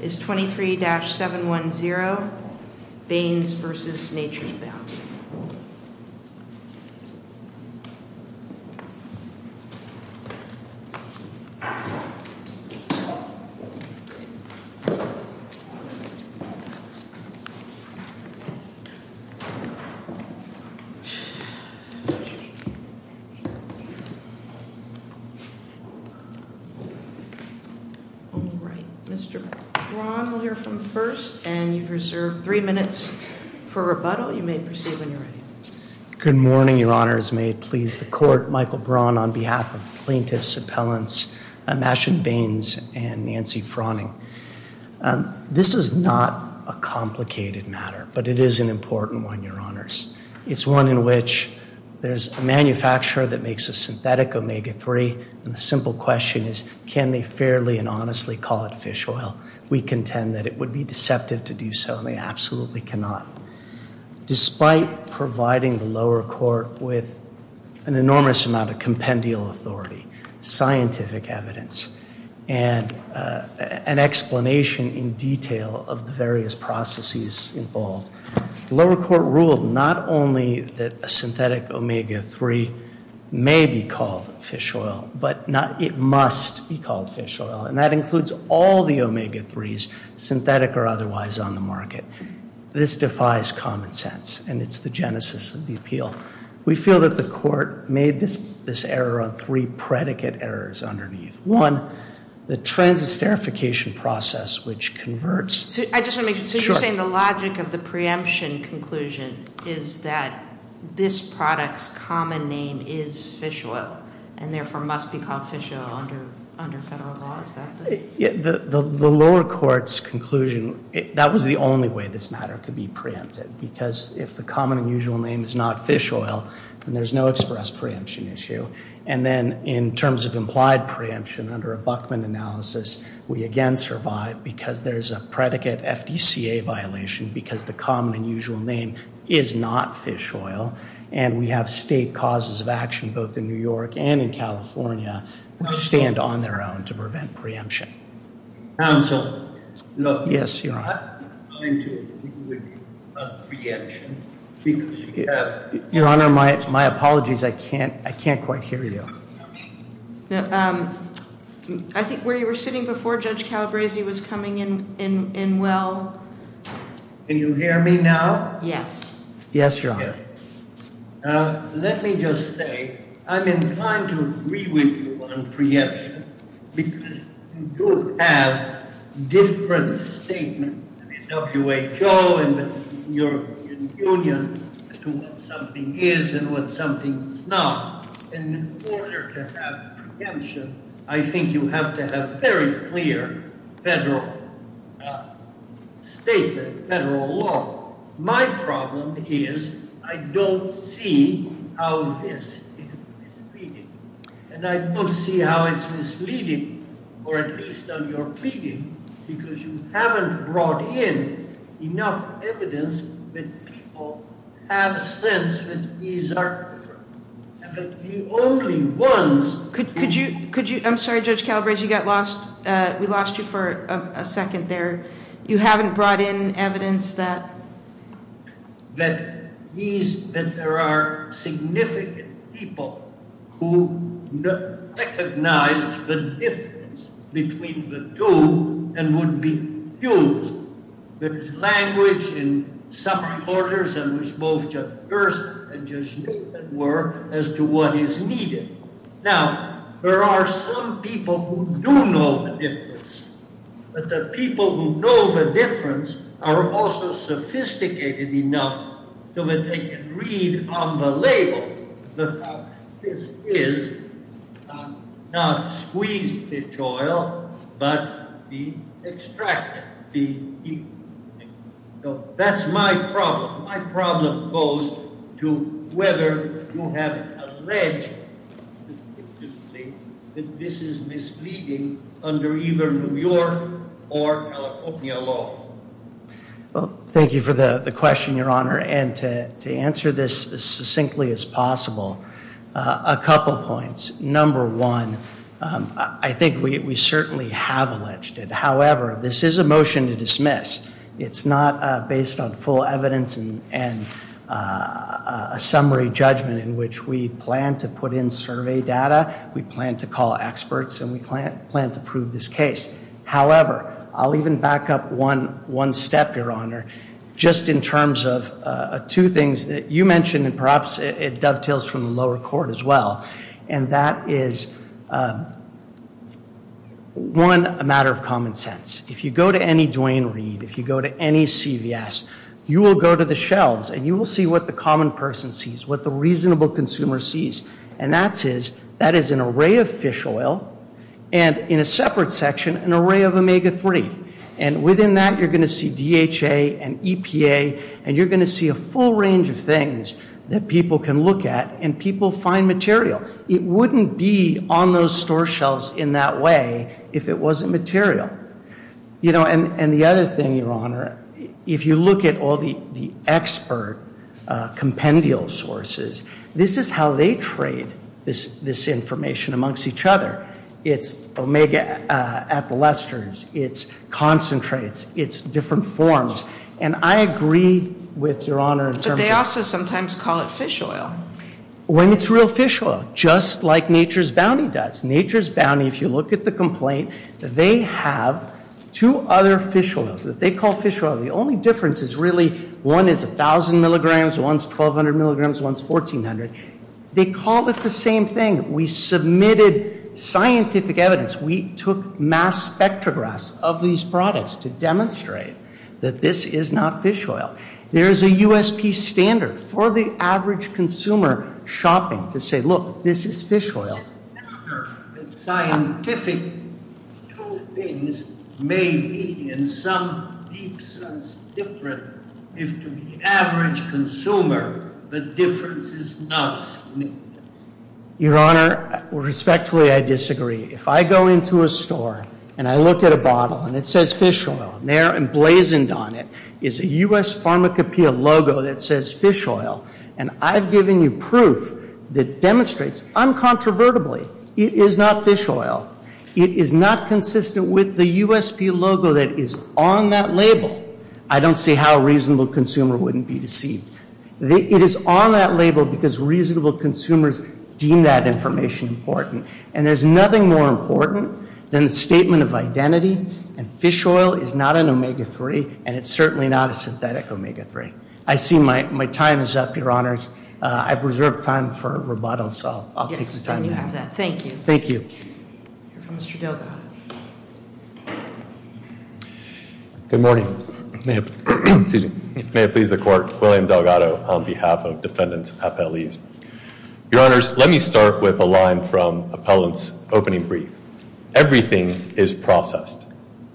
23-710 Baines v. Nature's Bounty Michael Braun will hear from first, and you've reserved three minutes for rebuttal. You may proceed when you're ready. Good morning, Your Honors. May it please the Court, Michael Braun on behalf of plaintiffs, appellants, Masha Baines, and Nancy Froning. This is not a complicated matter, but it is an important one, Your Honors. It's one in which there's a manufacturer that makes a synthetic omega-3, and the simple question is, can they fairly and honestly call it fish oil? We contend that it would be deceptive to do so, and they absolutely cannot. Despite providing the lower court with an enormous amount of compendial authority, scientific evidence, and an explanation in detail of the various processes involved, the lower court ruled not only that a synthetic omega-3 may be called fish oil, but it must be called fish oil, and that includes all the omega-3s, synthetic or otherwise, on the market. This defies common sense, and it's the genesis of the appeal. We feel that the court made this error on three predicate errors underneath. One, the transesterification process, which converts. I just want to make sure, so you're saying the logic of the preemption conclusion is that this product's common name is fish oil, and therefore must be called fish oil under federal law, is that the? The lower court's conclusion, that was the only way this matter could be preempted, because if the common and usual name is not fish oil, then there's no express preemption issue. And then in terms of implied preemption, under a Buckman analysis, we again survive, because there's a predicate FDCA violation, because the common and usual name is not fish oil, and we have state causes of action, both in New York and in California, which stand on their own to prevent preemption. Counsel, look. Yes, Your Honor. I'm not going to deal with preemption, because you have. Your Honor, my apologies. I can't quite hear you. I think where you were sitting before, Judge Calabresi was coming in well. Can you hear me now? Yes. Yes, Your Honor. Let me just say I'm inclined to agree with you on preemption, because you do have different statements, WHO and European Union, as to what something is and what something is not. And in order to have preemption, I think you have to have very clear federal statement, federal law. My problem is I don't see how this is misleading. And I don't see how it's misleading, or at least on your preview, because you haven't brought in enough evidence that people have sense that these are the only ones. Could you ‑‑ I'm sorry, Judge Calabresi, you got lost. We lost you for a second there. You haven't brought in evidence that? That there are significant people who recognize the difference between the two and would be used. There's language in some reporters, and which both Judge Gerst and Judge Nathan were, as to what is needed. Now, there are some people who do know the difference. But the people who know the difference are also sophisticated enough so that they can read on the label that this is not squeezed pitch oil, but the extract. That's my problem. My problem goes to whether you have alleged that this is misleading under either New York or California law. Well, thank you for the question, Your Honor. And to answer this as succinctly as possible, a couple points. Number one, I think we certainly have alleged it. However, this is a motion to dismiss. It's not based on full evidence and a summary judgment in which we plan to put in survey data. We plan to call experts, and we plan to prove this case. However, I'll even back up one step, Your Honor, just in terms of two things that you mentioned, and perhaps it dovetails from the lower court as well. And that is, one, a matter of common sense. If you go to any Duane Reade, if you go to any CVS, you will go to the shelves, and you will see what the common person sees, what the reasonable consumer sees. And that is an array of fish oil and, in a separate section, an array of omega-3. And within that, you're going to see DHA and EPA, and you're going to see a full range of things that people can look at and people find material. It wouldn't be on those store shelves in that way if it wasn't material. You know, and the other thing, Your Honor, if you look at all the expert compendial sources, this is how they trade this information amongst each other. It's omega at the Lester's. It's concentrates. It's different forms. And I agree with Your Honor in terms of- But they also sometimes call it fish oil. When it's real fish oil, just like Nature's Bounty does. Nature's Bounty, if you look at the complaint, they have two other fish oils that they call fish oil. The only difference is really one is 1,000 milligrams, one's 1,200 milligrams, one's 1,400. They call it the same thing. We submitted scientific evidence. We took mass spectrographs of these products to demonstrate that this is not fish oil. There is a USP standard for the average consumer shopping to say, look, this is fish oil. Does it matter that scientific two things may be in some deep sense different if to the average consumer the difference is not significant? Your Honor, respectfully, I disagree. If I go into a store and I look at a bottle and it says fish oil and they're emblazoned on it, it's a US Pharmacopeia logo that says fish oil, and I've given you proof that demonstrates uncontrovertibly it is not fish oil. It is not consistent with the USP logo that is on that label. I don't see how a reasonable consumer wouldn't be deceived. It is on that label because reasonable consumers deem that information important. And there's nothing more important than the statement of identity. And fish oil is not an omega-3, and it's certainly not a synthetic omega-3. I see my time is up, Your Honors. I've reserved time for rebuttal, so I'll take the time to have that. Yes, you have that. Thank you. Thank you. Mr. Delgado. Good morning. May it please the Court. William Delgado on behalf of Defendants Appellees. Your Honors, let me start with a line from Appellant's opening brief. Everything is processed.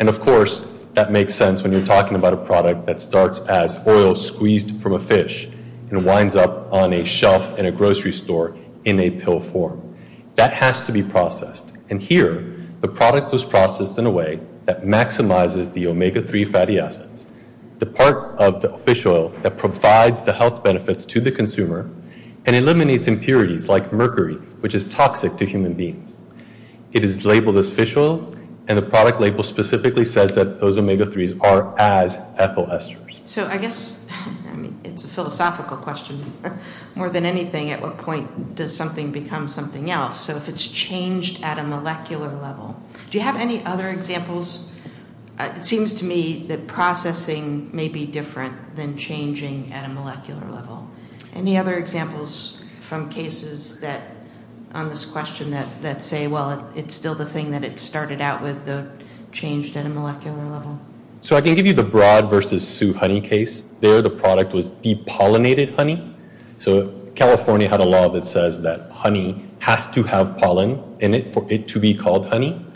And, of course, that makes sense when you're talking about a product that starts as oil squeezed from a fish and winds up on a shelf in a grocery store in a pill form. That has to be processed. And here, the product was processed in a way that maximizes the omega-3 fatty acids, the part of the fish oil that provides the health benefits to the consumer and eliminates impurities like mercury, which is toxic to human beings. It is labeled as fish oil, and the product label specifically says that those omega-3s are as ethyl esters. So I guess it's a philosophical question. More than anything, at what point does something become something else? So if it's changed at a molecular level. Do you have any other examples? It seems to me that processing may be different than changing at a molecular level. Any other examples from cases on this question that say, well, it's still the thing that it started out with, though it changed at a molecular level? So I can give you the Broad v. Sioux honey case. There, the product was depollinated honey. So California had a law that says that honey has to have pollen in it for it to be called honey.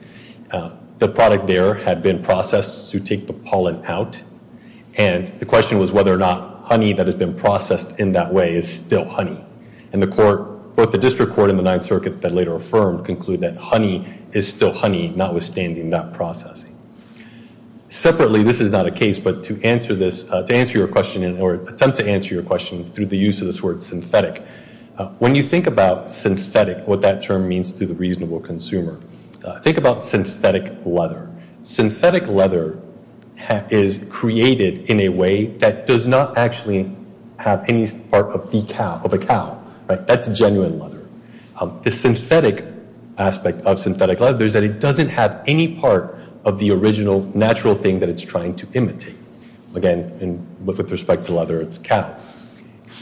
The product there had been processed to take the pollen out, and the question was whether or not honey that had been processed in that way is still honey. And the court, both the district court and the Ninth Circuit that later affirmed, conclude that honey is still honey, notwithstanding that processing. Separately, this is not a case, but to answer this, to answer your question, or attempt to answer your question through the use of this word synthetic, when you think about synthetic, what that term means to the reasonable consumer, think about synthetic leather. Synthetic leather is created in a way that does not actually have any part of the cow, of a cow. That's genuine leather. The synthetic aspect of synthetic leather is that it doesn't have any part of the original, natural thing that it's trying to imitate. Again, with respect to leather, it's cow.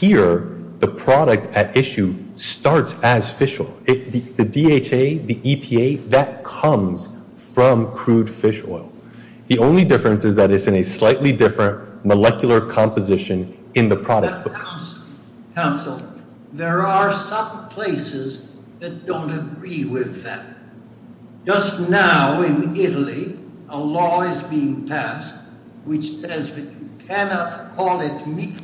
Here, the product at issue starts as fish oil. The DHA, the EPA, that comes from crude fish oil. The only difference is that it's in a slightly different molecular composition in the product. Counsel, there are some places that don't agree with that. Just now in Italy, a law is being passed which says that you cannot call it meat.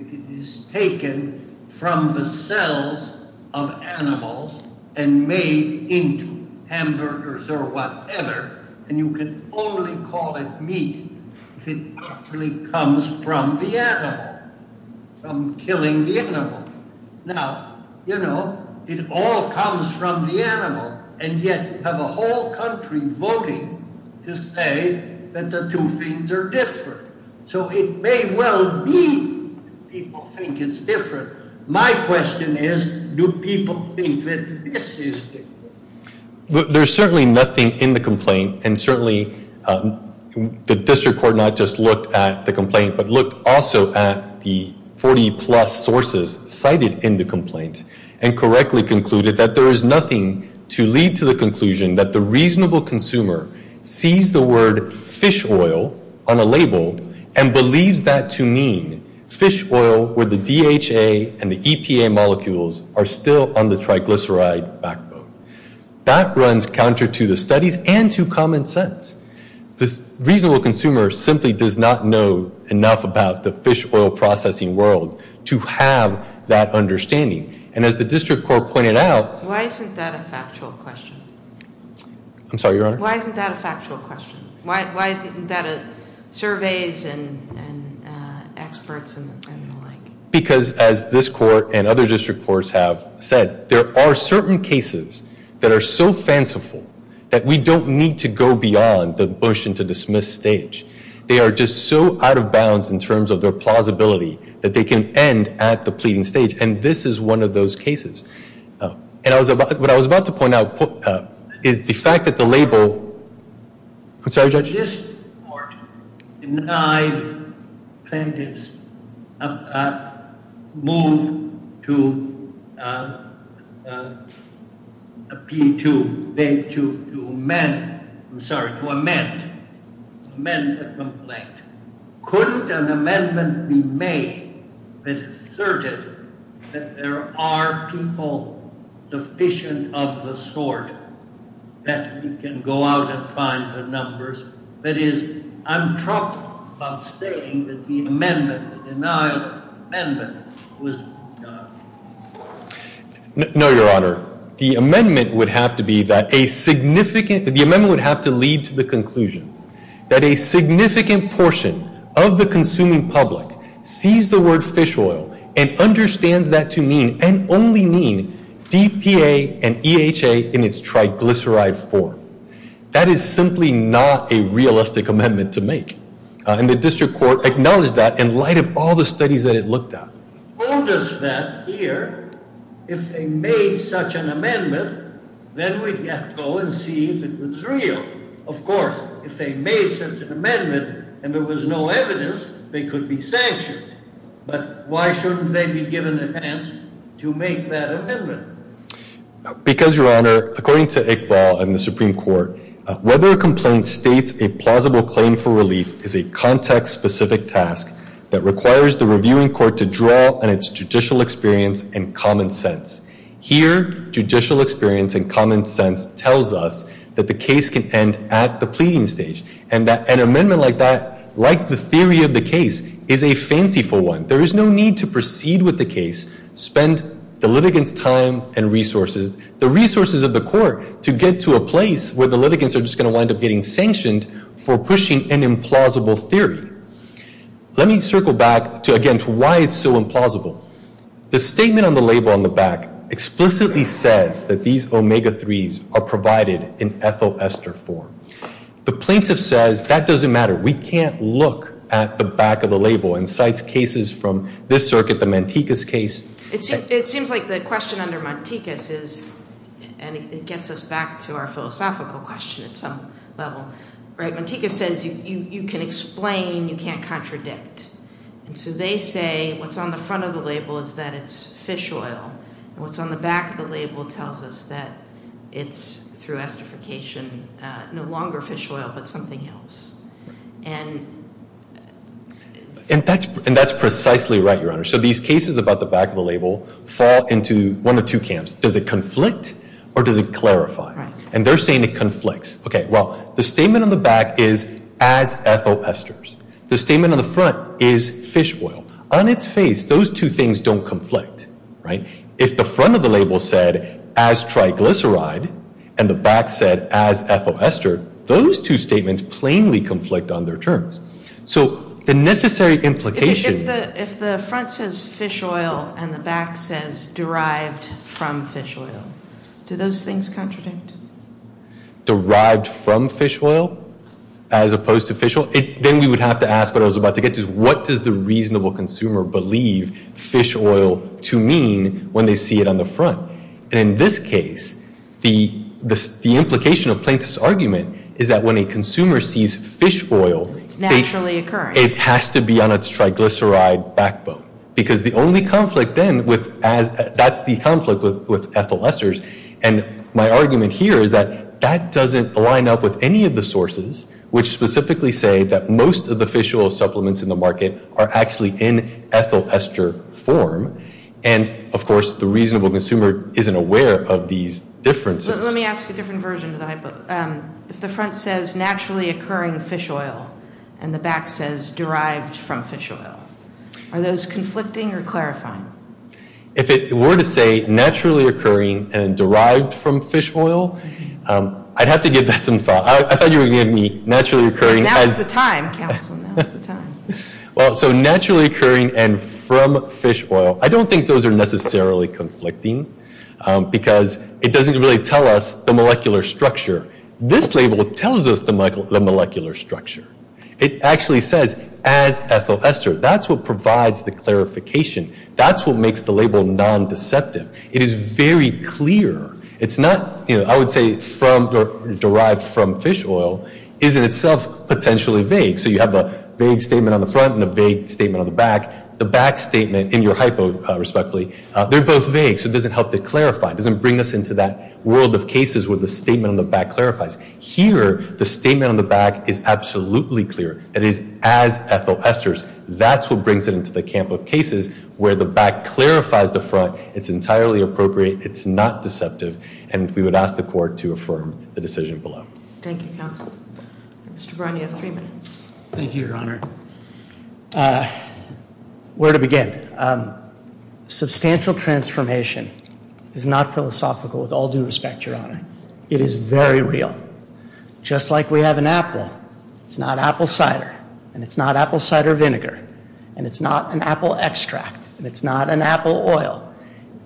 It is taken from the cells of animals and made into hamburgers or whatever, and you can only call it meat if it actually comes from the animal, from killing the animal. Now, you know, it all comes from the animal, and yet you have a whole country voting to say that the two things are different. So it may well be that people think it's different. My question is, do people think that this is different? There's certainly nothing in the complaint, and certainly the district court not just looked at the complaint, but looked also at the 40-plus sources cited in the complaint and correctly concluded that there is nothing to lead to the conclusion that the reasonable consumer sees the word fish oil on a label and believes that to mean fish oil where the DHA and the EPA molecules are still on the triglyceride backbone. That runs counter to the studies and to common sense. The reasonable consumer simply does not know enough about the fish oil processing world to have that understanding, and as the district court pointed out. Why isn't that a factual question? I'm sorry, Your Honor? Why isn't that a factual question? Why isn't that a surveys and experts and the like? Because as this court and other district courts have said, there are certain cases that are so fanciful that we don't need to go beyond the motion to dismiss stage. They are just so out of bounds in terms of their plausibility that they can end at the pleading stage, and this is one of those cases. And what I was about to point out is the fact that the label. I'm sorry, Judge? denied plaintiffs a move to amend the complaint. Couldn't an amendment be made that asserted that there are people deficient of the sort that we can go out and find the numbers? That is, I'm talking about stating that the amendment, the denied amendment, was done. No, Your Honor. The amendment would have to be that a significant, the amendment would have to lead to the conclusion that a significant portion of the consuming public sees the word fish oil and understands that to mean and only mean DPA and EHA in its triglyceride form. That is simply not a realistic amendment to make. And the district court acknowledged that in light of all the studies that it looked at. Told us that here, if they made such an amendment, then we'd have to go and see if it was real. Of course, if they made such an amendment and there was no evidence, they could be sanctioned. But why shouldn't they be given a chance to make that amendment? Because, Your Honor, according to Iqbal and the Supreme Court, whether a complaint states a plausible claim for relief is a context-specific task that requires the reviewing court to draw on its judicial experience and common sense. Here, judicial experience and common sense tells us that the case can end at the pleading stage. And that an amendment like that, like the theory of the case, is a fanciful one. There is no need to proceed with the case, spend the litigants' time and resources, the resources of the court, to get to a place where the litigants are just going to wind up getting sanctioned for pushing an implausible theory. Let me circle back to, again, to why it's so implausible. The statement on the label on the back explicitly says that these omega-3s are provided in ethyl ester form. The plaintiff says that doesn't matter. We can't look at the back of the label and cite cases from this circuit, the Mantikas case. It seems like the question under Mantikas is, and it gets us back to our philosophical question at some level, right? Mantikas says you can explain, you can't contradict. And so they say what's on the front of the label is that it's fish oil. What's on the back of the label tells us that it's, through esterification, no longer fish oil but something else. And that's precisely right, Your Honor. So these cases about the back of the label fall into one of two camps. Does it conflict or does it clarify? Right. And they're saying it conflicts. Okay, well, the statement on the back is as ethyl esters. The statement on the front is fish oil. On its face, those two things don't conflict. Right? If the front of the label said as triglyceride and the back said as ethyl ester, those two statements plainly conflict on their terms. So the necessary implication — If the front says fish oil and the back says derived from fish oil, do those things contradict? Derived from fish oil as opposed to fish oil? Then we would have to ask what I was about to get to. What does the reasonable consumer believe fish oil to mean when they see it on the front? And in this case, the implication of Plaintiff's argument is that when a consumer sees fish oil — It's naturally occurring. — it has to be on its triglyceride backbone. Because the only conflict then with — that's the conflict with ethyl esters. And my argument here is that that doesn't line up with any of the sources, which specifically say that most of the fish oil supplements in the market are actually in ethyl ester form. And, of course, the reasonable consumer isn't aware of these differences. Let me ask a different version of that. If the front says naturally occurring fish oil and the back says derived from fish oil, are those conflicting or clarifying? If it were to say naturally occurring and derived from fish oil, I'd have to give that some thought. I thought you were going to give me naturally occurring as — Now's the time, counsel. Now's the time. Well, so naturally occurring and from fish oil. I don't think those are necessarily conflicting because it doesn't really tell us the molecular structure. This label tells us the molecular structure. It actually says as ethyl ester. That's what provides the clarification. That's what makes the label non-deceptive. It is very clear. It's not — I would say derived from fish oil is in itself potentially vague. So you have a vague statement on the front and a vague statement on the back. The back statement in your hypo, respectfully, they're both vague, so it doesn't help to clarify. It doesn't bring us into that world of cases where the statement on the back clarifies. Here, the statement on the back is absolutely clear. It is as ethyl esters. That's what brings it into the camp of cases where the back clarifies the front. It's entirely appropriate. It's not deceptive, and we would ask the court to affirm the decision below. Thank you, counsel. Mr. Brown, you have three minutes. Thank you, Your Honor. Where to begin? Substantial transformation is not philosophical with all due respect, Your Honor. It is very real. Just like we have an apple, it's not apple cider, and it's not apple cider vinegar, and it's not an apple extract, and it's not an apple oil.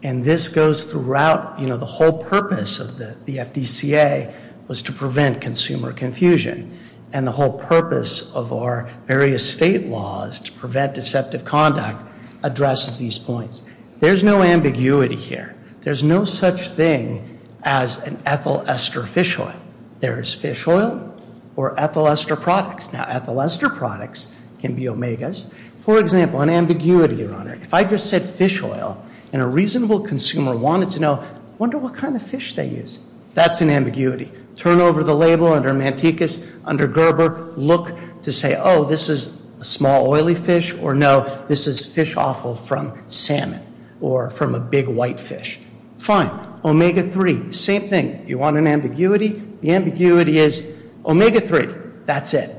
And this goes throughout — you know, the whole purpose of the FDCA was to prevent consumer confusion, and the whole purpose of our various state laws to prevent deceptive conduct addresses these points. There's no ambiguity here. There's no such thing as an ethyl ester fish oil. There is fish oil or ethyl ester products. Now, ethyl ester products can be omegas. For example, an ambiguity, Your Honor. If I just said fish oil and a reasonable consumer wanted to know, I wonder what kind of fish they use. That's an ambiguity. Turn over the label under Manticus, under Gerber. Look to say, oh, this is a small, oily fish. Or, no, this is fish offal from salmon or from a big, white fish. Fine. Omega-3. Same thing. You want an ambiguity? The ambiguity is omega-3. That's it.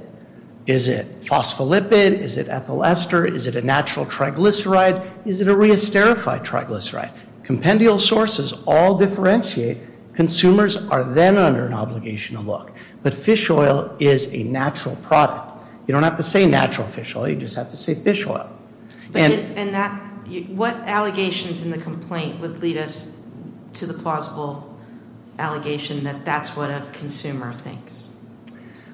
Is it phospholipid? Is it ethyl ester? Is it a natural triglyceride? Is it a re-esterified triglyceride? Compendial sources all differentiate. Consumers are then under an obligation to look. But fish oil is a natural product. You don't have to say natural fish oil. You just have to say fish oil. And what allegations in the complaint would lead us to the plausible allegation that that's what a consumer thinks?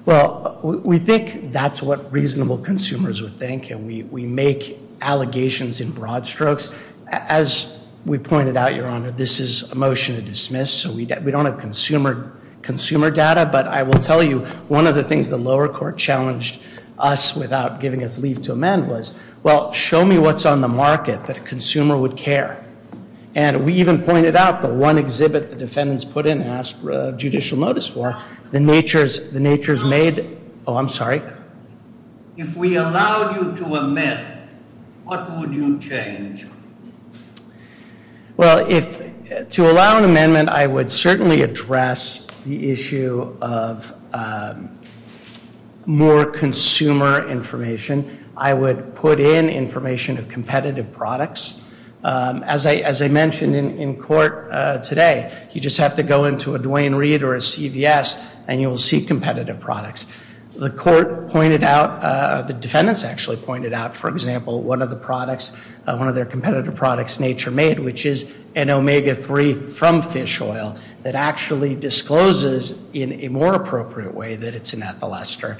Well, we think that's what reasonable consumers would think. And we make allegations in broad strokes. As we pointed out, Your Honor, this is a motion to dismiss. So we don't have consumer data. But I will tell you, one of the things the lower court challenged us without giving us leave to amend was, well, show me what's on the market that a consumer would care. And we even pointed out the one exhibit the defendants put in and asked judicial notice for. The nature's made ‑‑ oh, I'm sorry. If we allowed you to amend, what would you change? Well, to allow an amendment, I would certainly address the issue of more consumer information. I would put in information of competitive products. As I mentioned in court today, you just have to go into a Duane Reade or a CVS and you will see competitive products. The court pointed out, the defendants actually pointed out, for example, one of the products, one of their competitive products, nature made, which is an omega 3 from fish oil that actually discloses in a more appropriate way that it's an ethyl ester.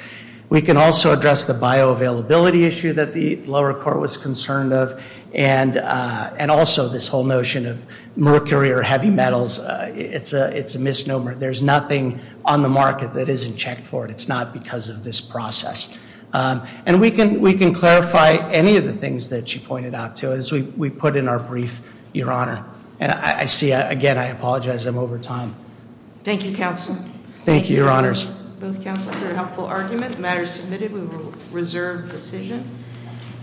We can also address the bioavailability issue that the lower court was concerned of and also this whole notion of mercury or heavy metals. It's a misnomer. There's nothing on the market that isn't checked for it. It's not because of this process. And we can clarify any of the things that she pointed out, too, as we put in our brief, Your Honor. And I see, again, I apologize. I'm over time. Thank you, counsel. Thank you, Your Honors. Both counsel for a helpful argument. The matter is submitted with a reserved decision.